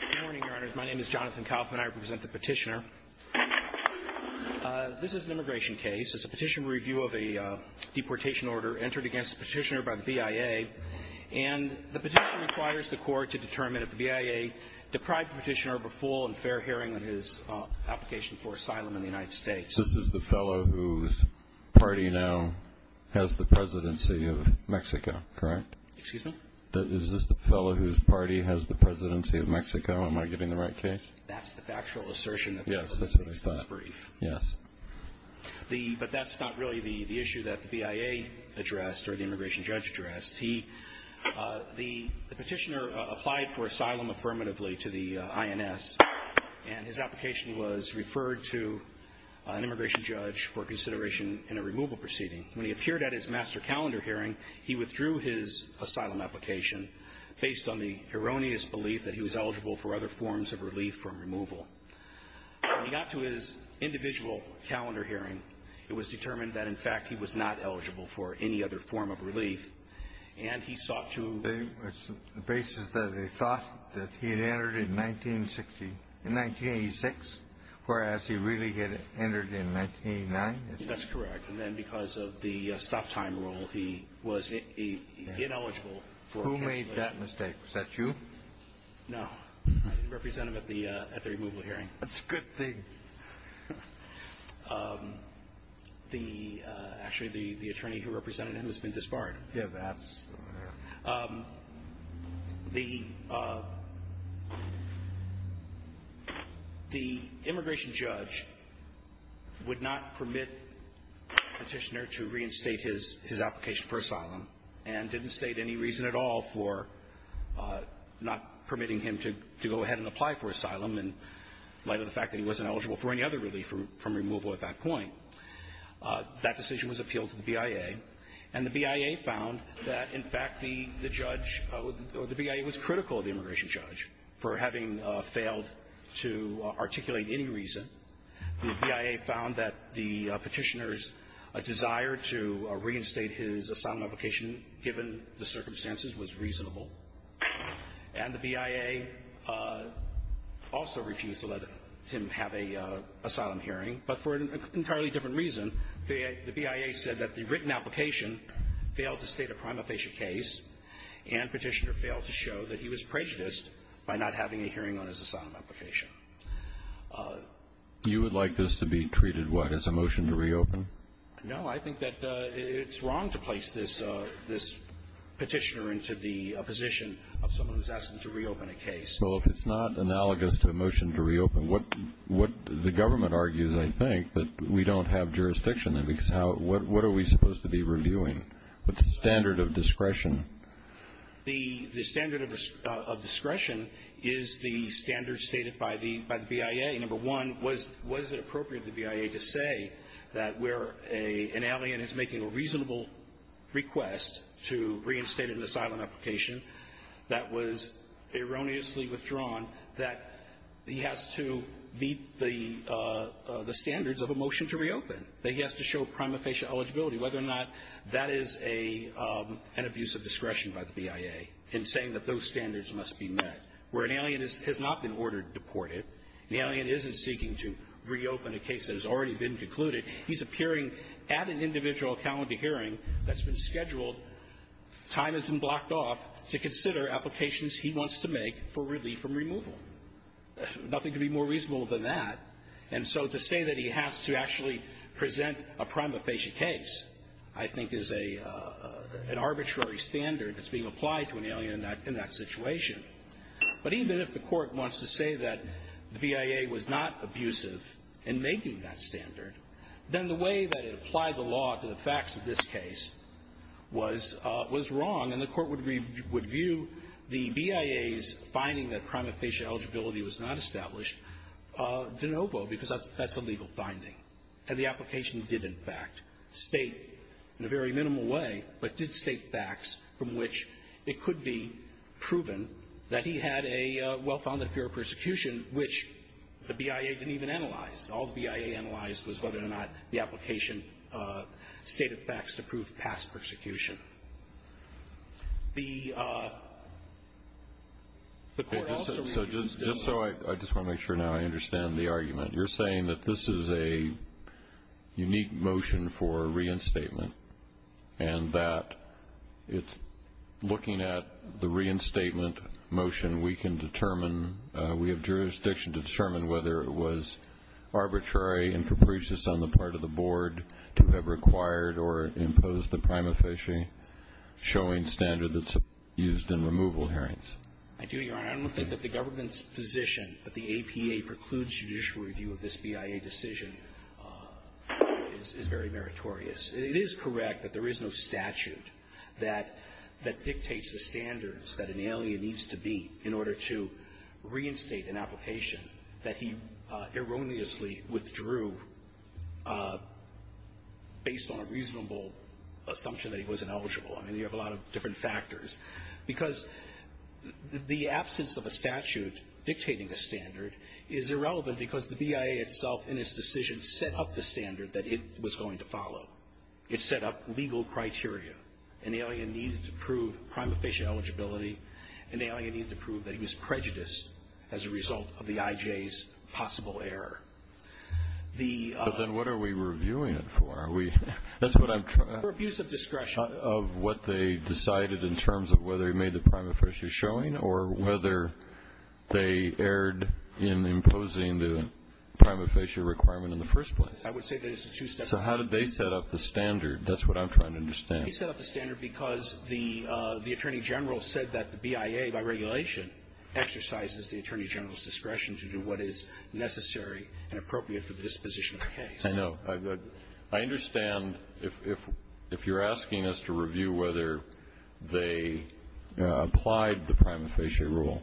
Good morning, Your Honors. My name is Jonathan Kaufman. I represent the petitioner. This is an immigration case. It's a petition review of a deportation order entered against the petitioner by the BIA. And the petition requires the court to determine if the BIA deprived the petitioner of a full and fair hearing on his application for asylum in the United States. This is the fellow whose party now has the presidency of Mexico, correct? Excuse me? Is this the fellow whose party has the presidency of Mexico? Am I getting the right case? That's the factual assertion. Yes, that's what I thought. It's brief. Yes. But that's not really the issue that the BIA addressed or the immigration judge addressed. The petitioner applied for asylum affirmatively to the INS, and his application was referred to an immigration judge for consideration in a removal proceeding. When he appeared at his master calendar hearing, he withdrew his asylum application based on the erroneous belief that he was eligible for other forms of relief from removal. When he got to his individual calendar hearing, it was determined that, in fact, he was not eligible for any other form of relief, and he sought to It was the basis that they thought that he had entered in 1986, whereas he really had entered in 1989. That's correct. And then because of the stop-time rule, he was ineligible for cancellation. Who made that mistake? Was that you? No, I didn't represent him at the removal hearing. That's a good thing. Actually, the attorney who represented him has been disbarred. Yes, that's correct. The immigration judge would not permit the petitioner to reinstate his application for asylum and didn't state any reason at all for not permitting him to go ahead and apply for asylum in light of the fact that he wasn't eligible for any other relief from removal at that point. That decision was appealed to the BIA, and the BIA found that, in fact, the judge or the BIA was critical of the immigration judge for having failed to articulate any reason. The BIA found that the petitioner's desire to reinstate his asylum application, given the circumstances, was reasonable. And the BIA also refused to let him have an asylum hearing, but for an entirely different reason. The BIA said that the written application failed to state a prima facie case, and petitioner failed to show that he was prejudiced by not having a hearing on his asylum application. You would like this to be treated, what, as a motion to reopen? No, I think that it's wrong to place this petitioner into the position of someone who's asking to reopen a case. So if it's not analogous to a motion to reopen, what the government argues, I think, that we don't have jurisdiction in, because what are we supposed to be reviewing? What's the standard of discretion? The standard of discretion is the standard stated by the BIA. Number one, was it appropriate for the BIA to say that where an alien is making a reasonable request to reinstate an asylum application that was erroneously withdrawn, that he has to meet the standards of a motion to reopen, that he has to show prima facie eligibility, whether or not that is an abuse of discretion by the BIA in saying that those standards must be met. Where an alien has not been ordered deported, an alien isn't seeking to reopen a case that has already been concluded. He's appearing at an individual calendar hearing that's been scheduled. Time has been blocked off to consider applications he wants to make for relief from removal. Nothing could be more reasonable than that. And so to say that he has to actually present a prima facie case, I think, is an arbitrary standard that's being applied to an alien in that situation. But even if the Court wants to say that the BIA was not abusive in making that standard, then the way that it applied the law to the facts of this case was wrong, and the Court would review the BIA's finding that prima facie eligibility was not established de novo, because that's a legal finding. And the application did, in fact, state, in a very minimal way, but did state facts from which it could be proven that he had a well-founded fear of persecution, which the BIA didn't even analyze. All the BIA analyzed was whether or not the application stated facts to prove past persecution. The Court also reviewed the law. I just want to make sure now I understand the argument. You're saying that this is a unique motion for reinstatement, and that it's looking at the reinstatement motion, we can determine we have jurisdiction to determine whether it was arbitrary and capricious on the part of the Board to have required or imposed the prima facie showing standard that's used in removal hearings. I do, Your Honor. I don't think that the government's position that the APA precludes judicial review of this BIA decision is very meritorious. It is correct that there is no statute that dictates the standards that an alien needs to meet in order to reinstate an application that he erroneously withdrew based on a reasonable assumption that he wasn't eligible. I mean, you have a lot of different factors. Because the absence of a statute dictating the standard is irrelevant because the BIA itself in its decision set up the standard that it was going to follow. It set up legal criteria. An alien needed to prove prima facie eligibility. An alien needed to prove that he was prejudiced as a result of the IJ's possible error. The other one. But then what are we reviewing it for? That's what I'm trying to say. For abuse of discretion. Of what they decided in terms of whether he made the prima facie showing or whether they erred in imposing the prima facie requirement in the first place. I would say that it's a two-step process. So how did they set up the standard? That's what I'm trying to understand. They set up the standard because the Attorney General said that the BIA, by regulation, exercises the Attorney General's discretion to do what is necessary and appropriate for the disposition of the case. I know. I understand if you're asking us to review whether they applied the prima facie rule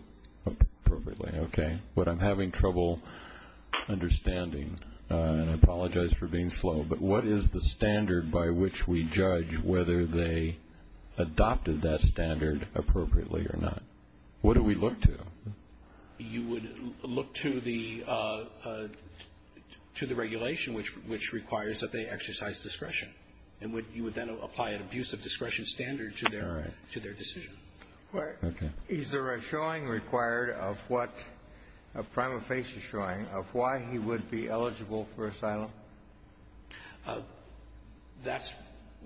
appropriately. Okay. But I'm having trouble understanding. And I apologize for being slow. But what is the standard by which we judge whether they adopted that standard appropriately or not? What do we look to? You would look to the regulation, which requires that they exercise discretion. And you would then apply an abuse of discretion standard to their decision. Okay. Is there a showing required of what a prima facie showing of why he would be eligible for asylum? That's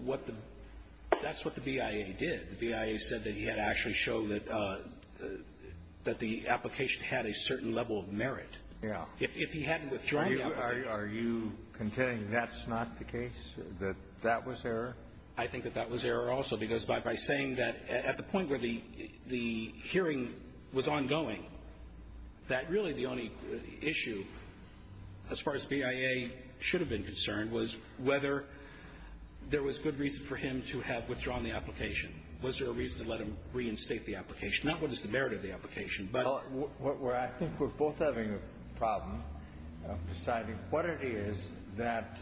what the BIA did. The BIA said that he had to actually show that the application had a certain level of merit. Yeah. If he hadn't withdrawn the application. Are you contending that's not the case, that that was error? I think that that was error also, because by saying that at the point where the hearing was ongoing, that really the only issue, as far as BIA should have been concerned, was whether there was good reason for him to have withdrawn the application. Was there a reason to let him reinstate the application? Not what is the merit of the application, but. Well, I think we're both having a problem deciding what it is that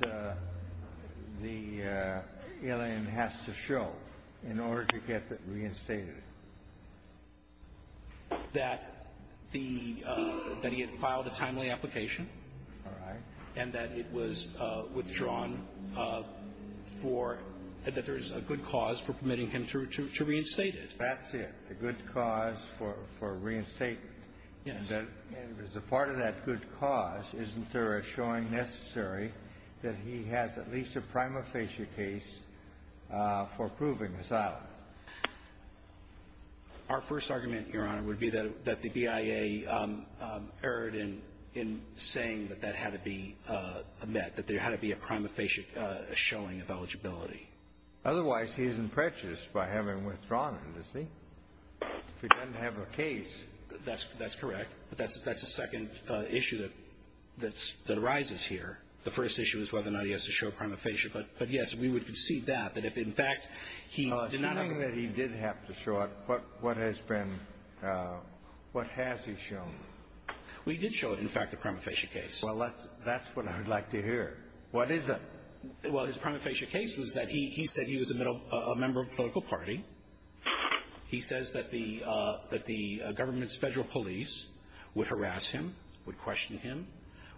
the alien has to show in order to get it reinstated. That he had filed a timely application. All right. And that it was withdrawn for, that there's a good cause for permitting him to reinstate it. That's it. The good cause for reinstating. Yes. And as a part of that good cause, isn't there a showing necessary that he has at least a prima facie case for proving asylum? Our first argument, Your Honor, would be that the BIA erred in saying that that had to be met, that there had to be a prima facie showing of eligibility. Otherwise, he isn't prejudiced by having withdrawn it, is he? If he doesn't have a case. That's correct. But that's a second issue that arises here. The first issue is whether or not he has to show prima facie. But, yes, we would concede that, that if, in fact, he did not have a case. Assuming that he did have to show it, what has he shown? Well, he did show, in fact, a prima facie case. Well, that's what I would like to hear. What is it? Well, his prima facie case was that he said he was a member of a political party. He says that the government's federal police would harass him, would question him,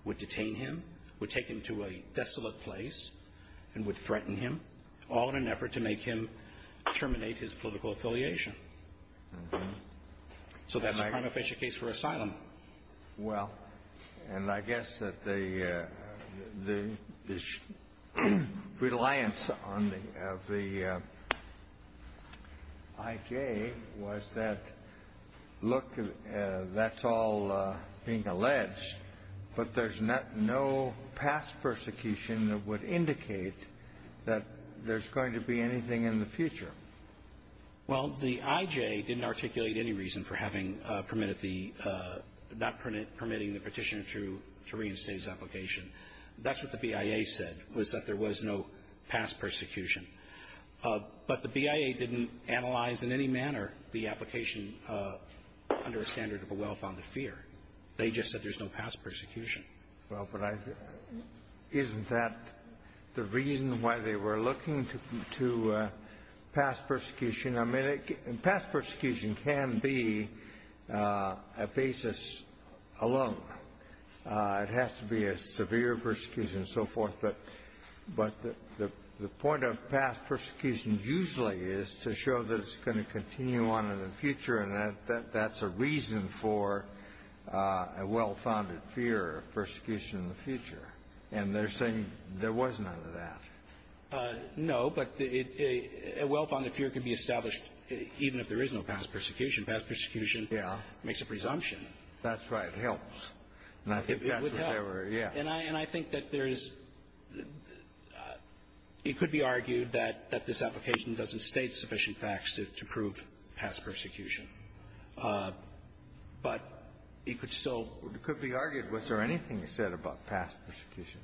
would detain him, would take him to a desolate place, and would threaten him, all in an effort to make him terminate his political affiliation. So that's a prima facie case for asylum. Well, and I guess that the reliance of the IJ was that, look, that's all being alleged, but there's no past persecution that would indicate that there's going to be anything in the future. Well, the IJ didn't articulate any reason for having permitted the – not permitting the Petitioner to reinstate his application. That's what the BIA said, was that there was no past persecution. But the BIA didn't analyze in any manner the application under a standard of a well-founded fear. They just said there's no past persecution. Well, but isn't that the reason why they were looking to past persecution? I mean, past persecution can be a basis alone. It has to be a severe persecution and so forth. But the point of past persecution usually is to show that it's going to continue on in the future, and that's a reason for a well-founded fear of persecution in the future. And they're saying there was none of that. No, but a well-founded fear can be established even if there is no past persecution. Past persecution makes a presumption. That's right. It helps. And I think that's what they were – yeah. And I – and I think that there's – it could be argued that this application doesn't state sufficient facts to prove past persecution. But it could still – It could be argued. Was there anything you said about past persecution?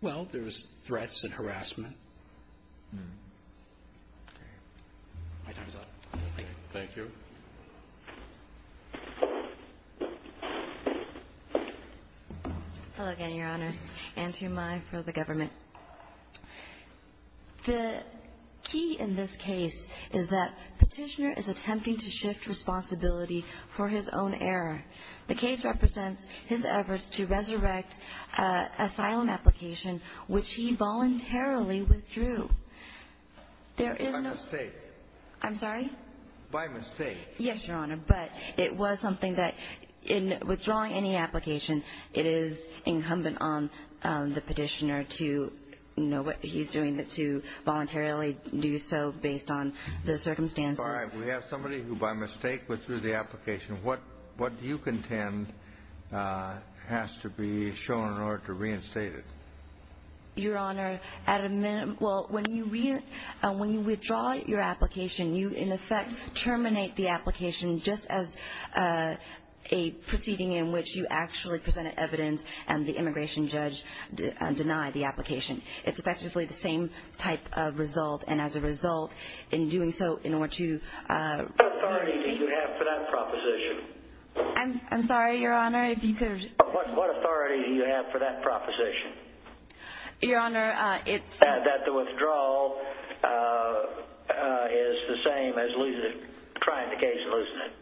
Well, there was threats and harassment. Okay. My time is up. Thank you. Thank you. Thank you. Hello again, Your Honors, and to my fellow government. The key in this case is that Petitioner is attempting to shift responsibility for his own error. The case represents his efforts to resurrect an asylum application, which he voluntarily withdrew. There is no – By mistake. I'm sorry? By mistake. Yes, Your Honor, but it was something that in withdrawing any application, it is incumbent on the Petitioner to, you know, what he's doing, to voluntarily do so based on the circumstances. All right. We have somebody who by mistake withdrew the application. What do you contend has to be shown in order to reinstate it? Your Honor, at a minute – well, when you withdraw your application, you in effect terminate the application just as a proceeding in which you actually presented evidence and the immigration judge denied the application. It's effectively the same type of result, and as a result, in doing so, in order to – What authority do you have for that proposition? I'm sorry, Your Honor, if you could – What authority do you have for that proposition? Your Honor, it's – That the withdrawal is the same as trying the case, isn't it?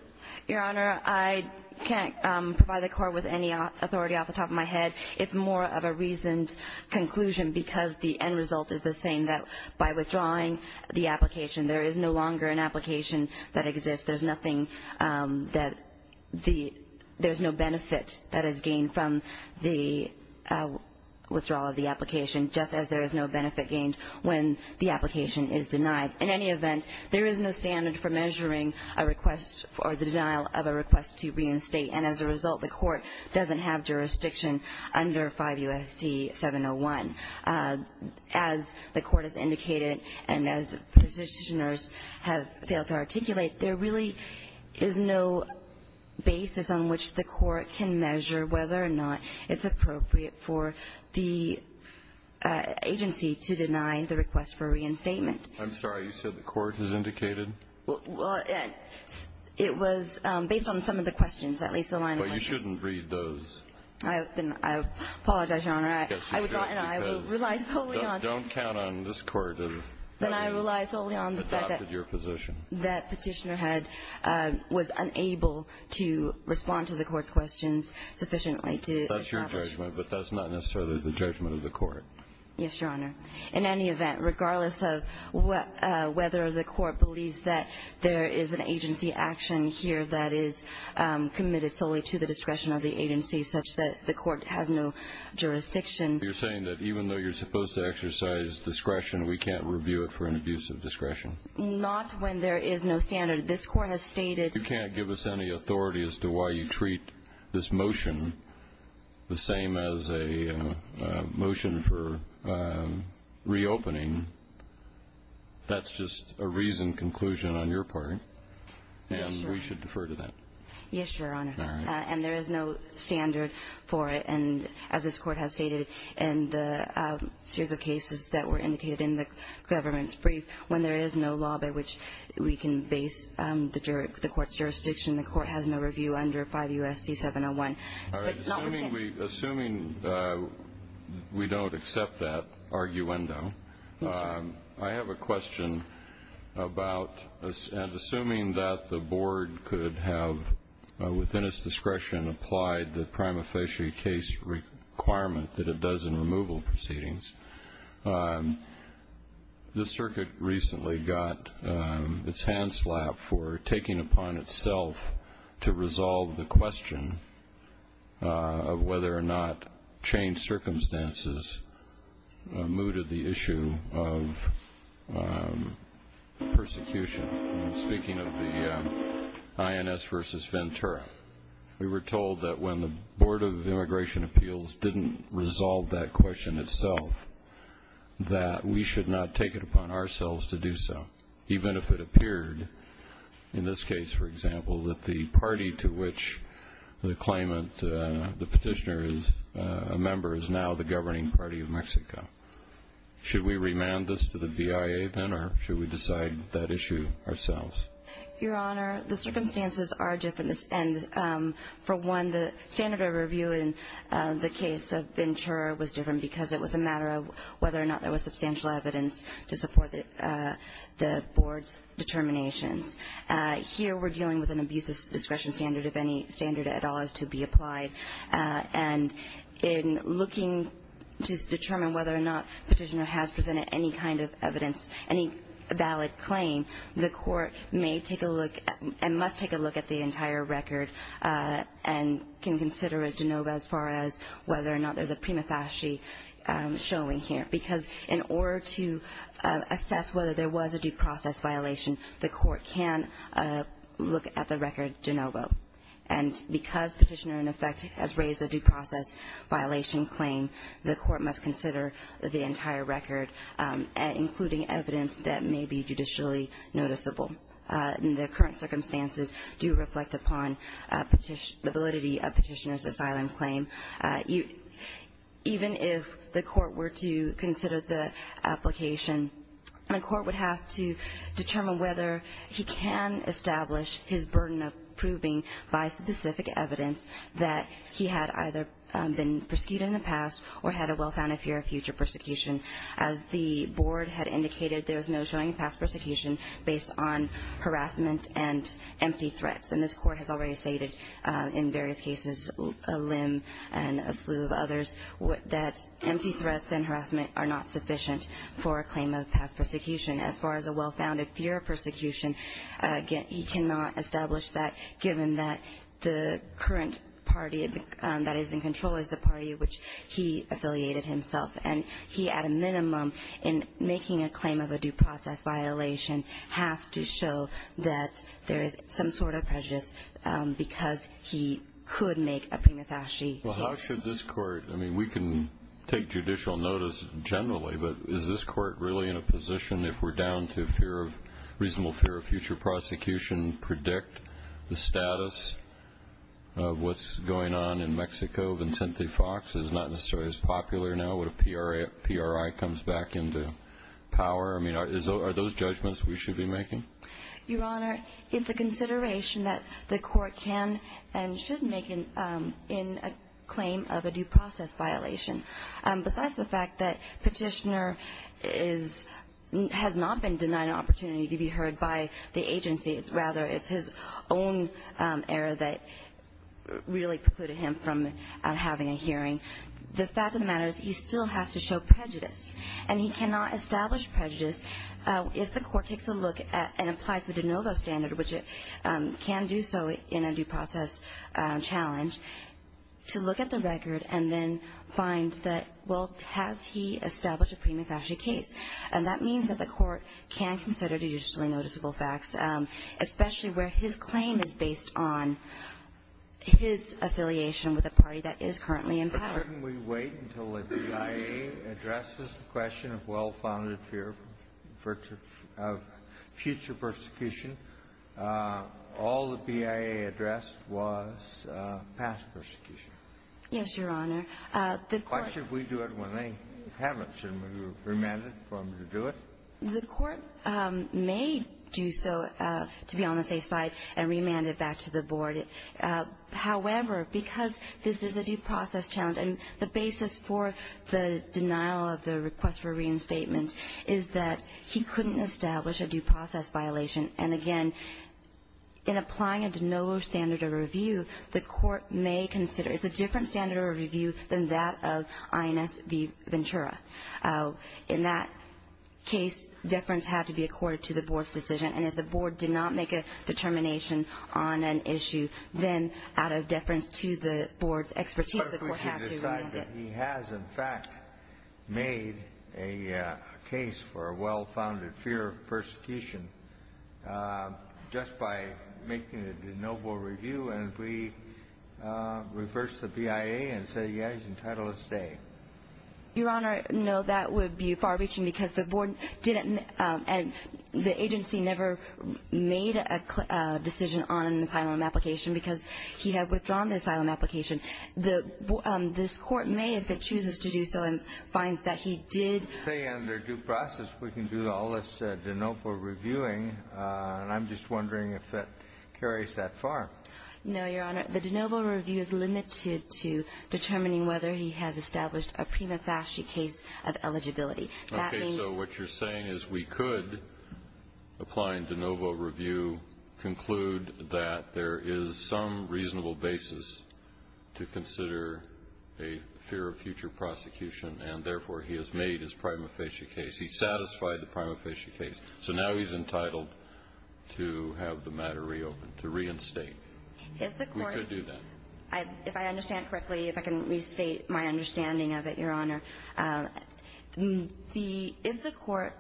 Your Honor, I can't provide the court with any authority off the top of my head. It's more of a reasoned conclusion because the end result is the same, that by withdrawing the application, there is no longer an application that exists. There's nothing that – there's no benefit that is gained from the withdrawal of the application, just as there is no benefit gained when the application is denied. In any event, there is no standard for measuring a request or the denial of a request to reinstate, and as a result, the court doesn't have jurisdiction under 5 U.S.C. 701. As the court has indicated and as Petitioners have failed to articulate, there really is no basis on which the court can measure whether or not it's appropriate for the agency to deny the request for reinstatement. I'm sorry. You said the court has indicated? Well, it was based on some of the questions, at least the line of questions. But you shouldn't read those. I apologize, Your Honor. And I will rely solely on the fact that that Petitioner was unable to respond to the court's questions sufficiently. That's your judgment, but that's not necessarily the judgment of the court. Yes, Your Honor. In any event, regardless of whether the court believes that there is an agency action committed solely to the discretion of the agency such that the court has no jurisdiction. You're saying that even though you're supposed to exercise discretion, we can't review it for an abuse of discretion? Not when there is no standard. This court has stated. You can't give us any authority as to why you treat this motion the same as a motion for reopening. That's just a reasoned conclusion on your part. Yes, Your Honor. We should defer to that. Yes, Your Honor. All right. And there is no standard for it. And as this court has stated in the series of cases that were indicated in the government's brief, when there is no law by which we can base the court's jurisdiction, the court has no review under 5 U.S.C. 701. All right. Assuming we don't accept that arguendo. Yes. I have a question about assuming that the board could have, within its discretion, applied the prima facie case requirement that it does in removal proceedings. The circuit recently got its hand slapped for taking upon itself to resolve the question of whether or not changed circumstances mooted the issue of persecution. And speaking of the INS versus Ventura, we were told that when the Board of Immigration Appeals didn't resolve that question itself, that we should not take it upon ourselves to do so, even if it appeared in this case, for example, that the party to which the claimant, the petitioner is a member, is now the governing party of Mexico. Should we remand this to the BIA then, or should we decide that issue ourselves? Your Honor, the circumstances are different. And for one, the standard of review in the case of Ventura was different because it was a matter of whether or not there was substantial evidence to support the board's determinations. Here we're dealing with an abuse of discretion standard, if any standard at all is to be applied. And in looking to determine whether or not petitioner has presented any kind of evidence, any valid claim, the court may take a look and must take a look at the entire record and can consider a de novo as far as whether or not there's a prima facie showing here. Because in order to assess whether there was a due process violation, the court can look at the record de novo. And because petitioner, in effect, has raised a due process violation claim, the court must consider the entire record, including evidence that may be judicially noticeable. The current circumstances do reflect upon the validity of petitioner's asylum claim. Even if the court were to consider the application, the court would have to determine whether he can establish his burden of proving by specific evidence that he had either been persecuted in the past or had a well-founded fear of future persecution. As the board had indicated, there was no showing of past persecution based on harassment and empty threats. And this court has already stated in various cases, a limb and a slew of others, that empty threats and harassment are not sufficient for a claim of past persecution. As far as a well-founded fear of persecution, he cannot establish that, given that the current party that is in control is the party which he affiliated himself. And he, at a minimum, in making a claim of a due process violation, has to show that there is some sort of prejudice because he could make a prima facie case. Well, how should this court – I mean, we can take judicial notice generally, but is this court really in a position, if we're down to a reasonable fear of future prosecution, predict the status of what's going on in Mexico? Is the idea of Vincente Fox not necessarily as popular now? Would a PRI come back into power? I mean, are those judgments we should be making? Your Honor, it's a consideration that the court can and should make in a claim of a due process violation. Besides the fact that Petitioner has not been denied an opportunity to be heard by the agency, rather it's his own error that really precluded him from having a hearing, the fact of the matter is he still has to show prejudice. And he cannot establish prejudice if the court takes a look and applies the de novo standard, which it can do so in a due process challenge, to look at the record and then find that, well, has he established a prima facie case? And that means that the court can consider judicially noticeable facts, especially where his claim is based on his affiliation with a party that is currently in power. Kennedy. But shouldn't we wait until the BIA addresses the question of well-founded fear of future persecution? All the BIA addressed was past persecution. Yes, Your Honor. Why should we do it when they haven't? Should we remand them to do it? The court may do so to be on the safe side and remand it back to the board. However, because this is a due process challenge and the basis for the denial of the request for reinstatement is that he couldn't establish a due process violation. And, again, in applying a de novo standard of review, the court may consider. It's a different standard of review than that of INS Ventura. In that case, deference had to be accorded to the board's decision. And if the board did not make a determination on an issue, then out of deference to the board's expertise, the court had to remand it. He has, in fact, made a case for a well-founded fear of persecution just by making a de novo review. And if we reverse the BIA and say, yes, he's entitled to stay. Your Honor, no, that would be far-reaching because the agency never made a decision on an asylum application because he had withdrawn the asylum application. This court may, if it chooses to do so and finds that he did. They say under due process we can do all this de novo reviewing. And I'm just wondering if that carries that far. No, Your Honor. The de novo review is limited to determining whether he has established a prima facie case of eligibility. Okay. So what you're saying is we could, applying de novo review, conclude that there is some reasonable basis to consider a fear of future prosecution, and therefore he has made his prima facie case. He satisfied the prima facie case. So now he's entitled to have the matter reopened, to reinstate. We could do that. If I understand correctly, if I can restate my understanding of it, Your Honor, if the court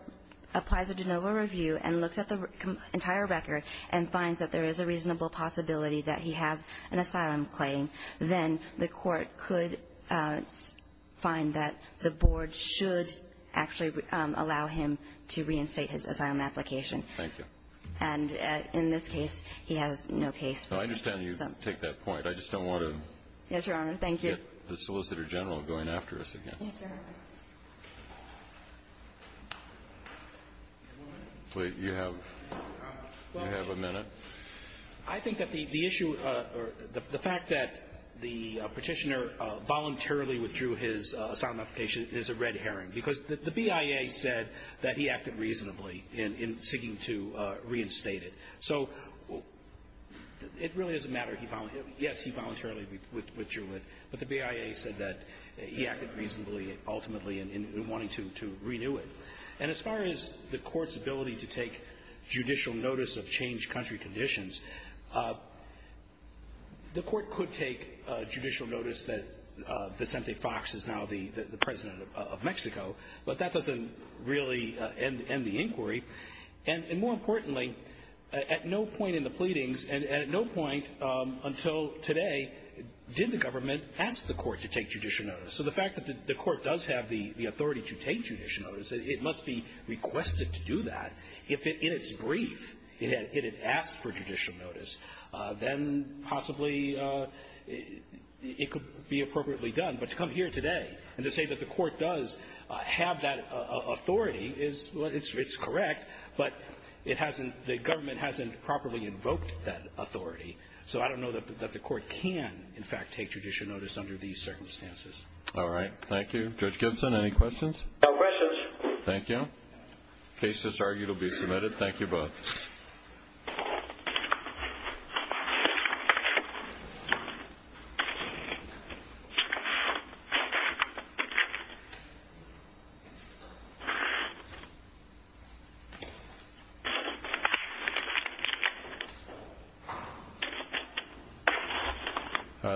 applies a de novo review and looks at the entire record and finds that there is a reasonable possibility that he has an asylum claim, then the court could find that the board should actually allow him to reinstate his asylum application. Thank you. And in this case, he has no case. I understand you take that point. I just don't want to get the Solicitor General going after us again. Yes, Your Honor. Please. You have a minute. I think that the issue or the fact that the Petitioner voluntarily withdrew his asylum application is a red herring, because the BIA said that he acted reasonably in seeking to reinstate it. So it really doesn't matter. Yes, he voluntarily withdrew it, but the BIA said that he acted reasonably ultimately in wanting to renew it. And as far as the court's ability to take judicial notice of changed country conditions, the court could take judicial notice that Vicente Fox is now the president of Mexico, but that doesn't really end the inquiry. And more importantly, at no point in the pleadings and at no point until today did the government ask the court to take judicial notice. So the fact that the court does have the authority to take judicial notice, it must be requested to do that. If in its brief it had asked for judicial notice, then possibly it could be appropriately done. But to come here today and to say that the court does have that authority is correct, but it hasn't the government hasn't properly invoked that authority. So I don't know that the court can in fact take judicial notice under these circumstances. All right. Thank you. Judge Gibson, any questions? No questions. Thank you. The case is argued to be submitted. Thank you both.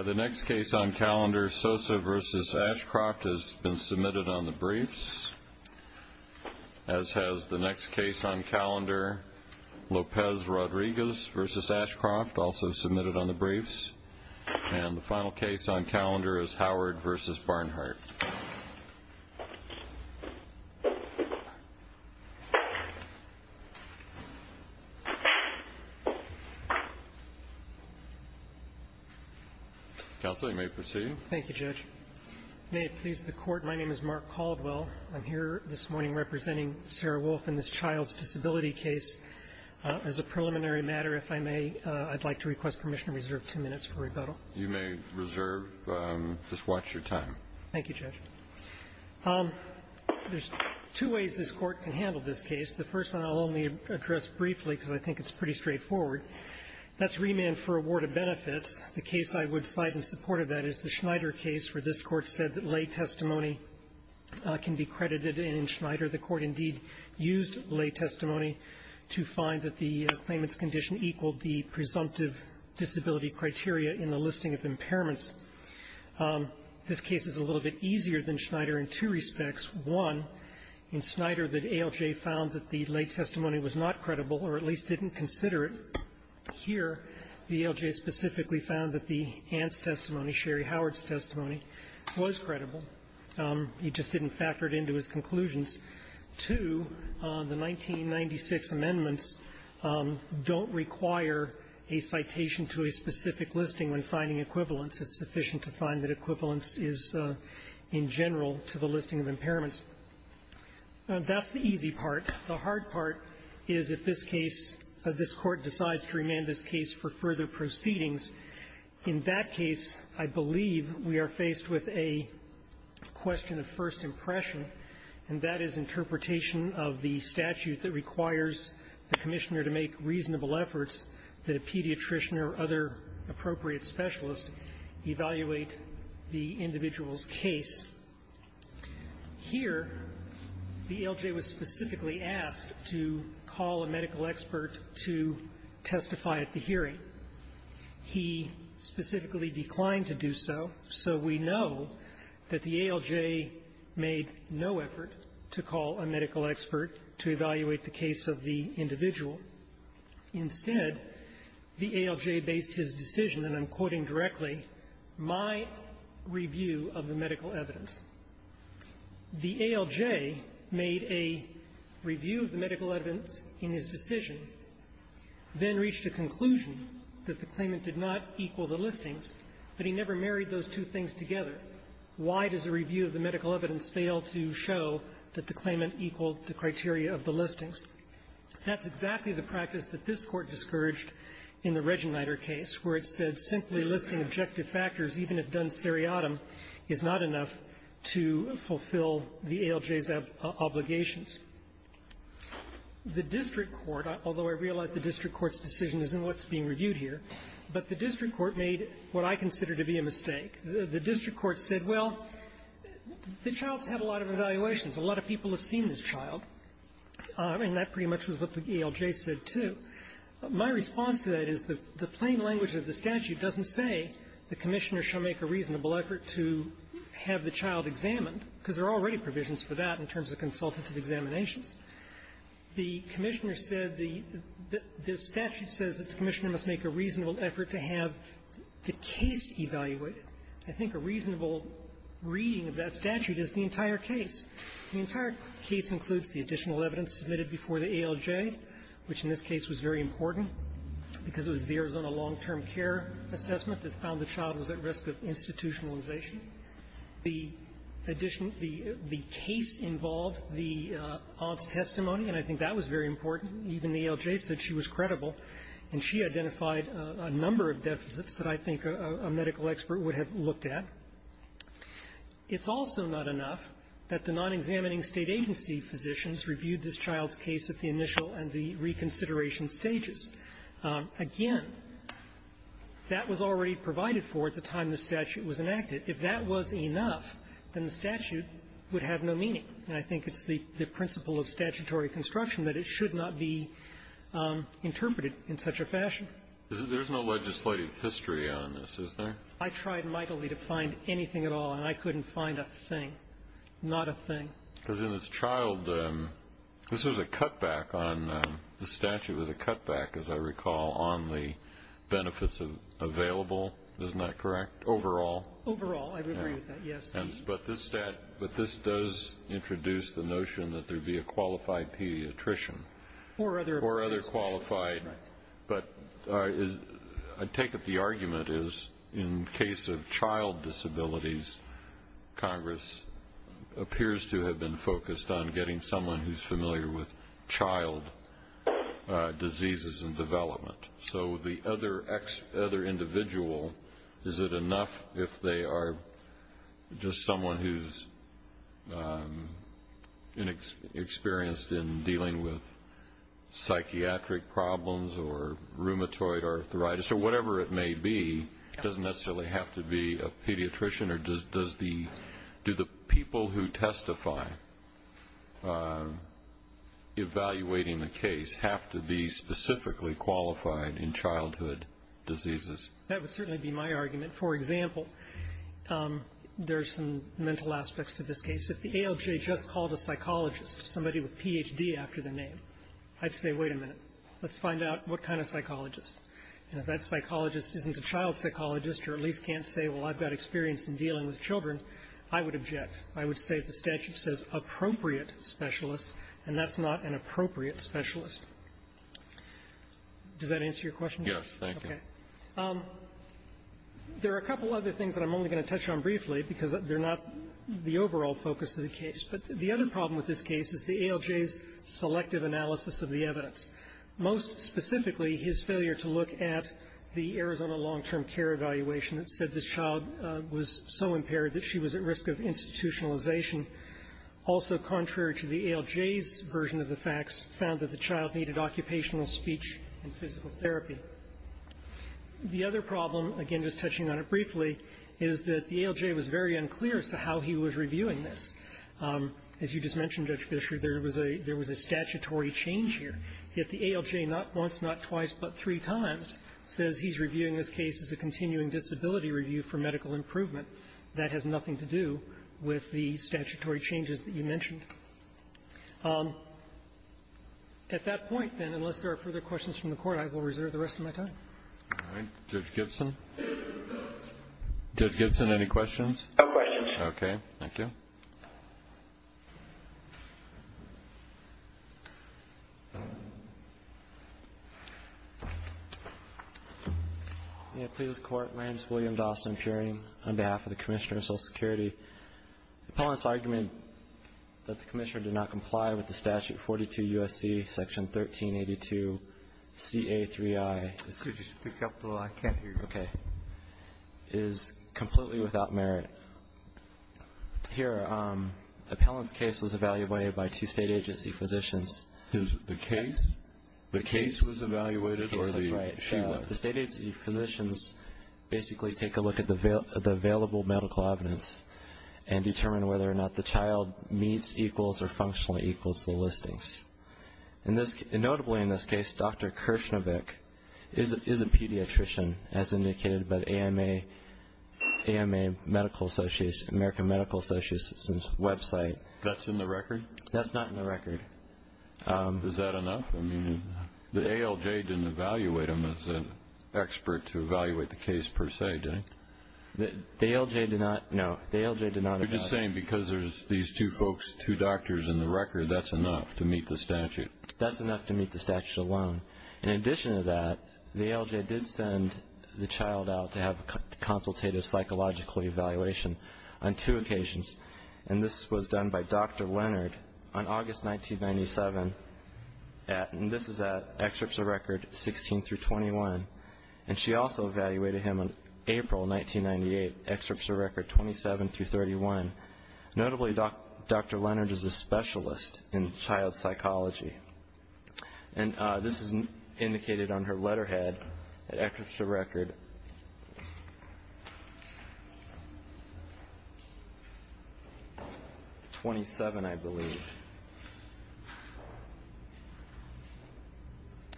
The next case on calendar Sosa versus Ashcroft has been submitted on the briefs, as has the Vegas versus Ashcroft, also submitted on the briefs. And the final case on calendar is Howard versus Barnhart. Counsel, you may proceed. Thank you, Judge. May it please the court, my name is Mark Caldwell. I'm here this morning representing Sarah Wolf in this child's disability case as a preliminary matter, if I may. I'd like to request permission to reserve two minutes for rebuttal. You may reserve. Just watch your time. Thank you, Judge. There's two ways this Court can handle this case. The first one I'll only address briefly because I think it's pretty straightforward. That's remand for award of benefits. The case I would cite in support of that is the Schneider case where this Court said that lay testimony can be credited in Schneider. The Court indeed used lay testimony to find that the claimant's condition equaled the presumptive disability criteria in the listing of impairments. This case is a little bit easier than Schneider in two respects. One, in Schneider, the ALJ found that the lay testimony was not credible, or at least didn't consider it. Here, the ALJ specifically found that the Anne's testimony, Sherry Howard's testimony, was credible. He just didn't factor it into his conclusions. Two, the 1996 amendments don't require a citation to a specific listing when finding equivalence. It's sufficient to find that equivalence is, in general, to the listing of impairments. That's the easy part. The hard part is if this case, this Court decides to remand this case for further proceedings. In that case, I believe we are faced with a question of first impression, and that is interpretation of the statute that requires the Commissioner to make reasonable efforts that a pediatrician or other appropriate specialist evaluate the individual's case. Here, the ALJ was specifically asked to call a medical expert to testify at the hearing. He specifically declined to do so, so we know that the ALJ made no effort to call a medical expert to evaluate the case of the individual. Instead, the ALJ based his decision, and I'm quoting directly, my review of the medical evidence. The ALJ made a review of the medical evidence in his decision, then reached a conclusion that the claimant did not equal the listings, but he never married those two things together. Why does a review of the medical evidence fail to show that the claimant equaled the criteria of the listings? That's exactly the practice that this Court discouraged in the Regenreiter case, where it said simply listing objective factors, even if done seriatim, is not enough to fulfill the ALJ's obligations. The district court, although I realize the district court's decision is in what's being reviewed here, but the district court made what I consider to be a mistake. The district court said, well, the child's had a lot of evaluations. A lot of people have seen this child, and that pretty much was what the ALJ said, too. My response to that is the plain language of the statute doesn't say the Commissioner shall make a reasonable effort to have the child examined, because there are already provisions for that in terms of consultative examinations. The Commissioner said the statute says the Commissioner must make a reasonable effort to have the case evaluated. I think a reasonable reading of that statute is the entire case. The entire case includes the additional evidence submitted before the ALJ, which in this case was very important because it was the Arizona long-term care assessment that found the child was at risk of institutionalization. The additional the case involved the odds testimony, and I think that was very important. Even the ALJ said she was credible, and she identified a number of deficits that I think a medical expert would have looked at. It's also not enough that the non-examining State agency physicians reviewed this child's case at the initial and the reconsideration stages. Again, that was already provided for at the time the statute was enacted. If that was enough, then the statute would have no meaning. And I think it's the principle of statutory construction that it should not be interpreted in such a fashion. There's no legislative history on this, is there? I tried mightily to find anything at all, and I couldn't find a thing, not a thing. Because in this child, this was a cutback on the statute, was a cutback, as I recall, on the benefits available. Isn't that correct? Overall? Overall, I would agree with that, yes. But this does introduce the notion that there would be a qualified pediatrician. Or other qualified. Right. But I take it the argument is in case of child disabilities, Congress appears to have been focused on getting someone who's familiar with child diseases and development. So the other individual, is it enough if they are just someone who's inexperienced in dealing with psychiatric problems or rheumatoid arthritis, or whatever it may be, doesn't necessarily have to be a pediatrician? Or does the do the people who testify evaluating the case have to be specifically qualified in childhood diseases? That would certainly be my argument. For example, there's some mental aspects to this case. If the ALJ just called a psychologist, somebody with Ph.D. after their name, I'd say, wait a minute, let's find out what kind of psychologist. And if that psychologist isn't a child psychologist or at least can't say, well, I've got experience in dealing with children, I would object. I would say if the statute says appropriate specialist, and that's not an appropriate specialist. Does that answer your question? Yes, thank you. Okay. There are a couple other things that I'm only going to touch on briefly because they're not the overall focus of the case. But the other problem with this case is the ALJ's selective analysis of the evidence. Most specifically, his failure to look at the Arizona long-term care evaluation that said this child was so impaired that she was at risk of institutionalization, also contrary to the ALJ's version of the facts, found that the child needed occupational speech and physical therapy. The other problem, again just touching on it briefly, is that the ALJ was very unclear as to how he was reviewing this. As you just mentioned, Judge Fisher, there was a statutory change here. If the ALJ not once, not twice, but three times says he's reviewing this case as a continuing disability review for medical improvement, that has nothing to do with the statutory changes that you mentioned. At that point, then, unless there are further questions from the Court, I will reserve the rest of my time. All right. Judge Gibson? Judge Gibson, any questions? No questions. Okay. Thank you. May it please the Court? My name is William Dawson, appearing on behalf of the Commissioner of Social Security. The Pelliss argument that the Commissioner did not comply with the Statute 42 U.S.C., Section 1382, CA3I. Could you speak up a little? I can't hear you. Okay. This case is completely without merit. Here, Appellant's case was evaluated by two state agency physicians. The case? The case was evaluated? The case was evaluated. The state agency physicians basically take a look at the available medical evidence and determine whether or not the child meets, equals, or functionally equals the listings. Notably in this case, Dr. Kirshnevik is a pediatrician, as indicated by the AMA Medical Association, American Medical Association's website. That's in the record? That's not in the record. Is that enough? I mean, the ALJ didn't evaluate him as an expert to evaluate the case, per se, did it? The ALJ did not, no. The ALJ did not evaluate him. You're just saying because there's these two folks, two doctors in the record, that's enough to meet the statute? That's enough to meet the statute alone. In addition to that, the ALJ did send the child out to have a consultative psychological evaluation on two occasions, and this was done by Dr. Leonard on August 1997, and this is at excerpts of record 16 through 21. And she also evaluated him on April 1998, excerpts of record 27 through 31. Notably, Dr. Leonard is a specialist in child psychology, and this is indicated on her letterhead at excerpts of record 27, I believe.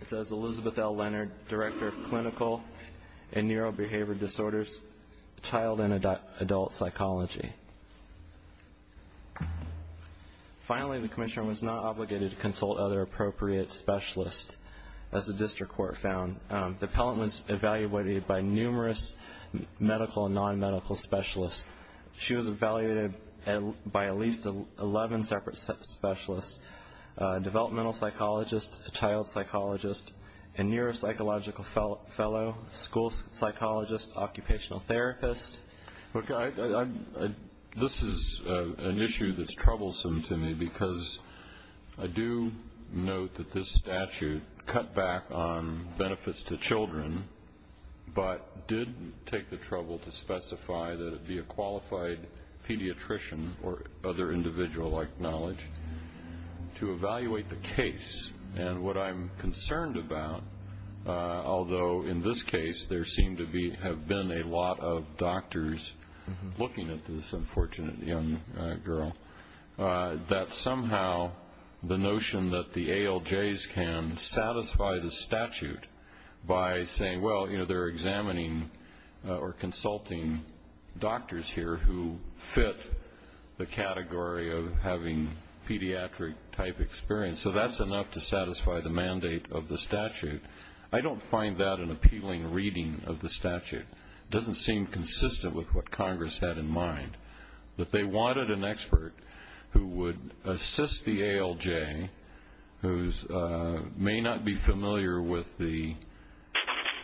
It says, Elizabeth L. Leonard, Director of Clinical and Neurobehavioral Disorders, Child and Adult Psychology. Finally, the commissioner was not obligated to consult other appropriate specialists, as the district court found. The appellant was evaluated by numerous medical and non-medical specialists. She was evaluated by at least 11 separate specialists, a developmental psychologist, a child psychologist, a neuropsychological fellow, school psychologist, occupational therapist. Look, this is an issue that's troublesome to me, because I do note that this statute cut back on benefits to children, but did take the trouble to specify that it be a qualified or other individual like knowledge to evaluate the case. And what I'm concerned about, although in this case there seem to be, have been a lot of doctors looking at this unfortunate young girl, that somehow the notion that the ALJs can satisfy the statute by saying, well, you know, they're examining or consulting doctors here who fit the category of having pediatric type experience. So that's enough to satisfy the mandate of the statute. I don't find that an appealing reading of the statute. It doesn't seem consistent with what Congress had in mind, that they wanted an expert who would assist the ALJ, who may not be familiar with the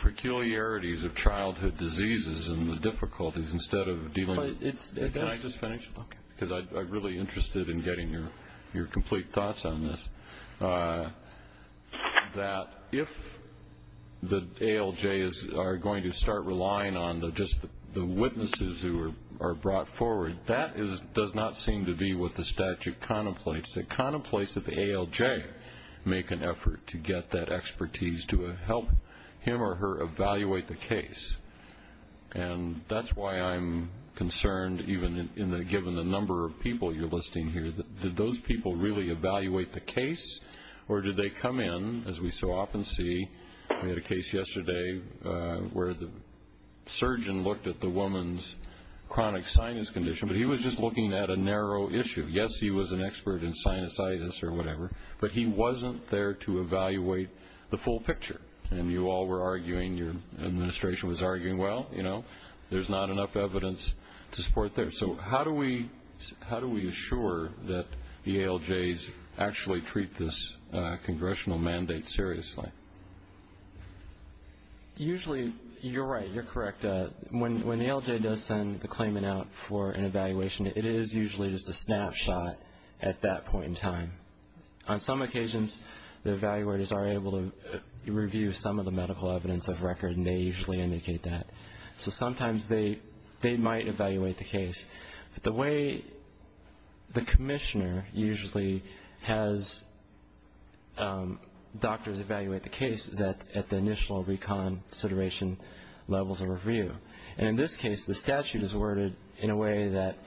peculiarities of childhood diseases and the difficulties, instead of dealing with... But it's... Can I just finish? Okay. Because I'm really interested in getting your complete thoughts on this, that if the ALJs are going to start relying on just the witnesses who are brought forward, that does not seem to be what the statute contemplates. It contemplates that the ALJ make an effort to get that expertise to help him or her evaluate the case. And that's why I'm concerned, even in the... Given the number of people you're listing here, did those people really evaluate the case, or did they come in, as we so often see? We had a case yesterday where the surgeon looked at the woman's chronic sinus condition, but he was just looking at a narrow issue. Yes, he was an expert in sinusitis or whatever, but he wasn't there to evaluate the full picture. And you all were arguing, your administration was arguing, well, you know, there's not enough evidence to support that. So how do we assure that the ALJs actually treat this congressional mandate seriously? Usually, you're right, you're correct. When the ALJ does send the claimant out for an evaluation, it is usually just a snapshot at that point in time. On some occasions, the evaluators are able to review some of the medical evidence of record, and they usually indicate that. So sometimes they might evaluate the case. But the way the commissioner usually has doctors evaluate the case is at the initial reconsideration levels of review. And in this case, the statute is worded in a way that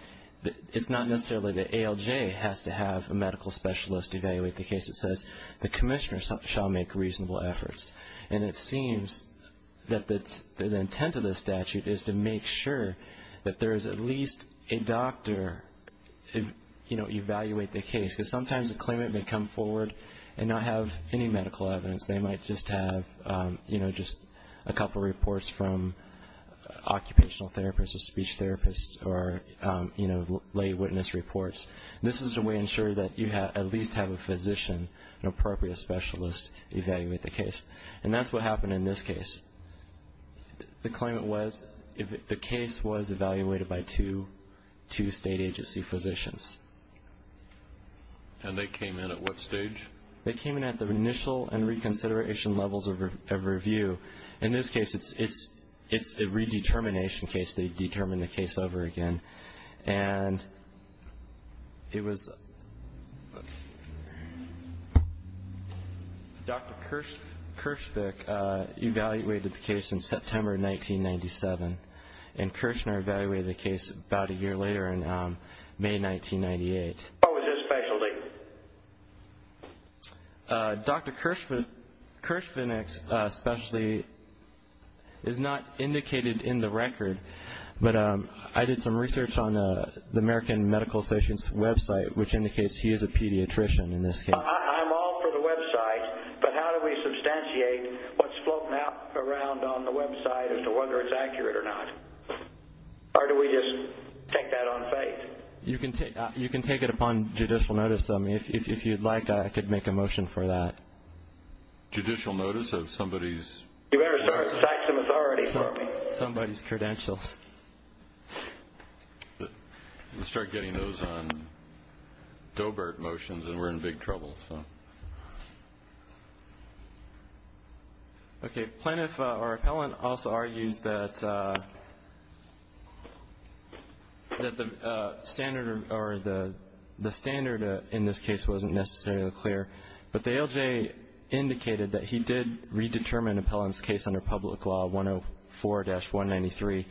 it's not necessarily the ALJ has to have a medical specialist evaluate the case. It says, the commissioner shall make reasonable efforts. And it seems that the intent of the statute is to make sure that there is at least a doctor evaluate the case. Because sometimes a claimant may come forward and not have any medical evidence. They might just have, you know, just a couple of reports from occupational therapists or speech therapists or, you know, lay witness reports. This is the way to ensure that you at least have a physician, an appropriate specialist, evaluate the case. And that's what happened in this case. The claimant was, the case was evaluated by two state agency physicians. And they came in at what stage? They came in at the initial and reconsideration levels of review. In this case, it's a redetermination case. They determine the case over again. And it was Dr. Kirschvick evaluated the case in September 1997. And Kirschner evaluated the case about a year later in May 1998. What was his specialty? Dr. Kirschvick's specialty is not indicated in the record. But I did some research on the American Medical Association's website, which indicates he is a pediatrician in this case. I'm all for the website. But how do we substantiate what's floating around on the website as to whether it's accurate or not? Or do we just take that on faith? You can take it upon judicial notice. If you'd like, I could make a motion for that. Judicial notice of somebody's? You better start to ask some authority for me. Somebody's credentials. Let's start getting those on Doebert motions, and we're in big trouble. Okay. Plaintiff or appellant also argues that the standard in this case wasn't necessarily clear. But the ALJ indicated that he did redetermine an appellant's case under Public Law 104-193.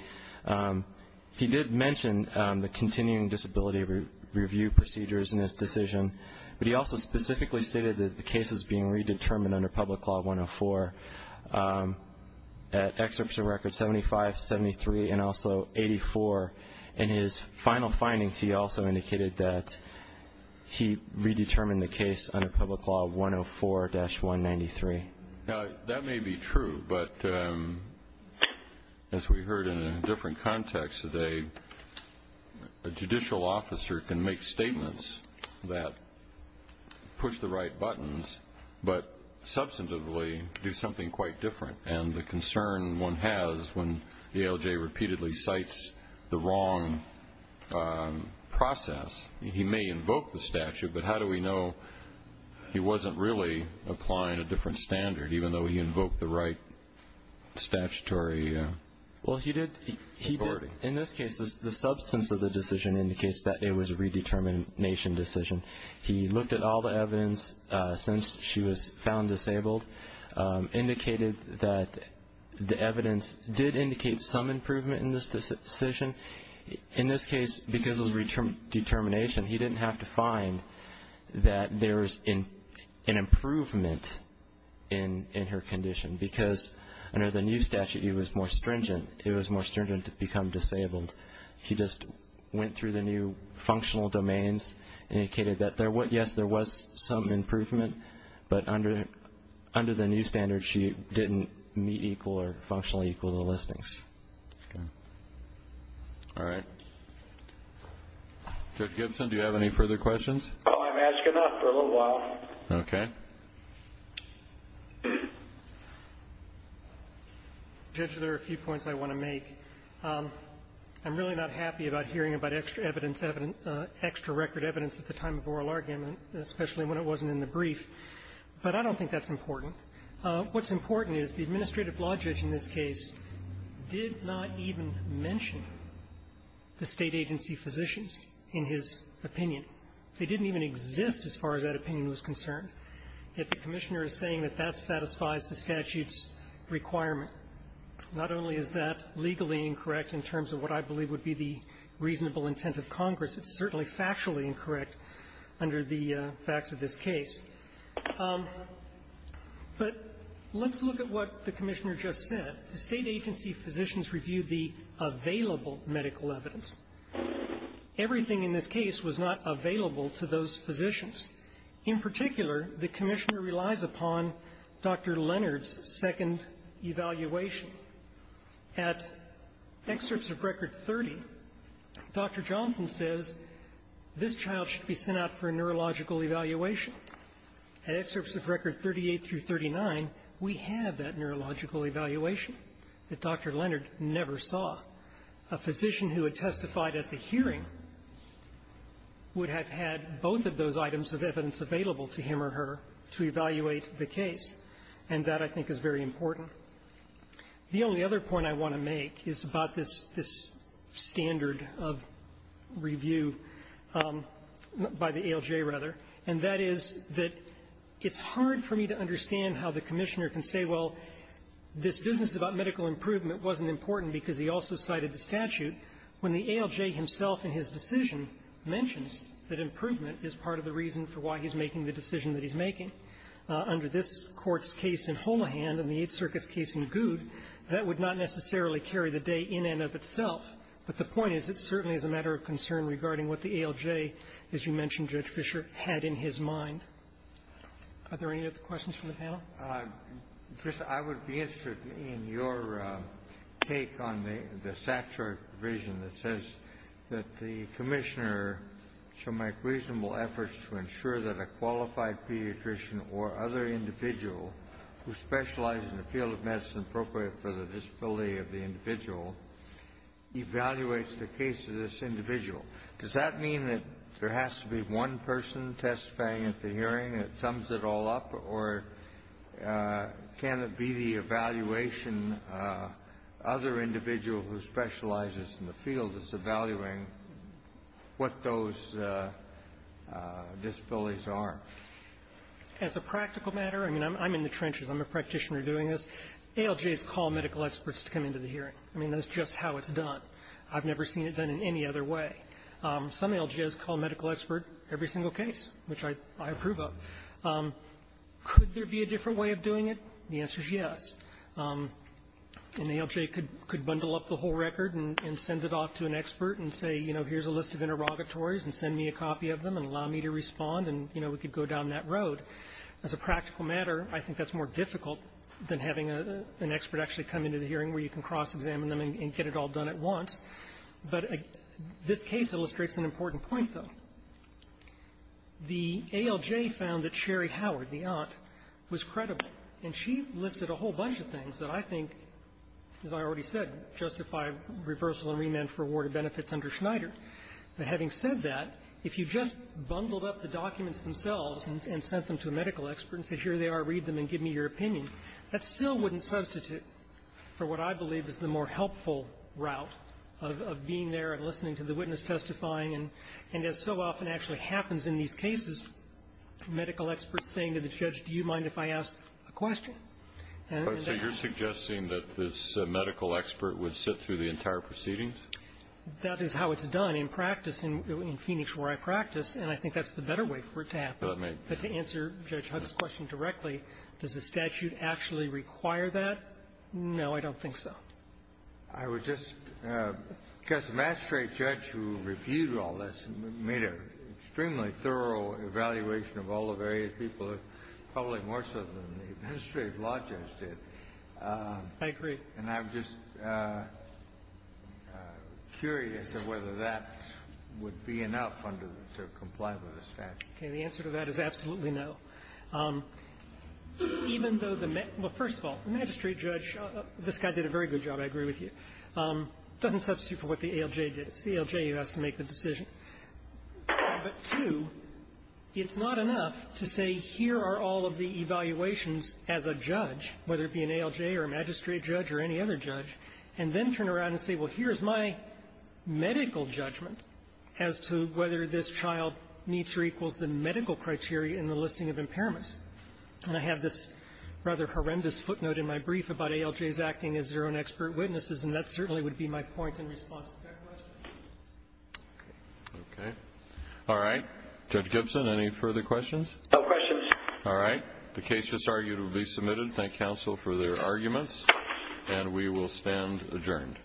He did mention the continuing disability review procedures in his decision. But he also specifically stated that the case was being redetermined under Public Law 104, at excerpts of records 75, 73, and also 84. In his final findings, he also indicated that he redetermined the case under Public Law 104-193. Now, that may be true, but as we heard in a different context today, a judicial officer can make statements that push the right buttons but substantively do something quite different. And the concern one has when the ALJ repeatedly cites the wrong process, he may invoke the statute, but how do we know he wasn't really applying a different standard, even though he invoked the right statutory authority? In this case, the substance of the decision indicates that it was a redetermination decision. He looked at all the evidence since she was found disabled, indicated that the evidence did indicate some improvement in this decision. In this case, because of the determination, he didn't have to find that there was an improvement in her condition because under the new statute, it was more stringent to become disabled. He just went through the new functional domains, indicated that, yes, there was some improvement, but under the new standard, she didn't meet equal or functionally equal to the listings. Okay. All right. Judge Gibson, do you have any further questions? I'm asking enough for a little while. Okay. Judge, there are a few points I want to make. I'm really not happy about hearing about extra record evidence at the time of oral argument, especially when it wasn't in the brief, but I don't think that's important. What's important is the administrative law judge in this case did not even mention the State agency physicians in his opinion. They didn't even exist as far as that opinion was concerned. Yet the Commissioner is saying that that satisfies the statute's requirement. Not only is that legally incorrect in terms of what I believe would be the reasonable intent of Congress, it's certainly factually incorrect under the facts of this case. But let's look at what the Commissioner just said. The State agency physicians reviewed the available medical evidence. Everything in this case was not available to those physicians. In particular, the Commissioner relies upon Dr. Leonard's second evaluation. At excerpts of Record 30, Dr. Johnson says this child should be sent out for a neurological evaluation. At excerpts of Record 38 through 39, we have that neurological evaluation that Dr. Leonard never saw. A physician who had testified at the hearing would have had both of those items of evidence available to him or her to evaluate the case, and that, I think, is very important. The only other point I want to make is about this standard of review by the ALJ, rather, and that is that it's hard for me to understand how the Commissioner can say, well, this business about medical improvement wasn't important because he also cited the statute, when the ALJ himself in his decision mentions that improvement is part of the reason for why he's making the decision that he's making. Under this Court's case in Holmahan and the Eighth Circuit's case in Goud, that would not necessarily carry the day in and of itself, but the point is it certainly is a matter of concern regarding what the ALJ, as you mentioned, Judge Fischer, had in his mind. Are there any other questions from the panel? I would be interested in your take on the statutory provision that says that the Commissioner shall make reasonable efforts to ensure that a qualified pediatrician or other individual who specializes in the field of medicine appropriate for the disability of the individual evaluates the case of this individual. Does that mean that there has to be one person testifying at the hearing that sums it all up, or can it be the evaluation other individual who specializes in the field is evaluating what those disabilities are? As a practical matter, I mean, I'm in the trenches. I'm a practitioner doing this. ALJs call medical experts to come into the hearing. I mean, that's just how it's done. I've never seen it done in any other way. Some ALJs call a medical expert every single case, which I approve of. Could there be a different way of doing it? The answer is yes. An ALJ could bundle up the whole record and send it off to an expert and say, you know, here's a list of interrogatories and send me a copy of them and allow me to respond and, you know, we could go down that road. As a practical matter, I think that's more difficult than having an expert actually come into the hearing where you can cross-examine them and get it all done at once. But this case illustrates an important point, though. The ALJ found that Sherry Howard, the aunt, was credible. And she listed a whole bunch of things that I think, as I already said, justify reversal and remand for awarded benefits under Schneider. But having said that, if you just bundled up the documents themselves and sent them to a medical expert and said, here they are, read them and give me your opinion, that still wouldn't substitute for what I believe is the more helpful route of being there and listening to the witness testifying and, as so often actually happens in these cases, medical experts saying to the judge, do you mind if I ask a question? And that's the question. So you're suggesting that this medical expert would sit through the entire proceedings? That is how it's done in practice, in Phoenix where I practice. And I think that's the better way for it to happen. That may be. But to answer Judge Hunt's question directly, does the statute actually require that? No, I don't think so. I would just guess the magistrate judge who reviewed all this made an extremely thorough evaluation of all the various people, probably more so than the administrative law judge did. I agree. And I'm just curious of whether that would be enough under the to comply with the statute. Okay. The answer to that is absolutely no. Even though the med — well, first of all, the magistrate judge, this guy did a very good job, I agree with you, doesn't substitute for what the ALJ did. It's the ALJ who has to make the decision. But, two, it's not enough to say here are all of the evaluations as a judge, whether it be an ALJ or a magistrate judge or any other judge, and then turn around and say, well, here's my medical judgment as to whether this child meets or equals the medical criteria in the listing of impairments. And I have this rather horrendous footnote in my brief about ALJs acting as their own expert witnesses, and that certainly would be my point in response to that question. Okay. All right. Judge Gibson, any further questions? No questions. All right. The case just argued will be submitted. Thank counsel for their arguments. And we will stand adjourned. Thank you.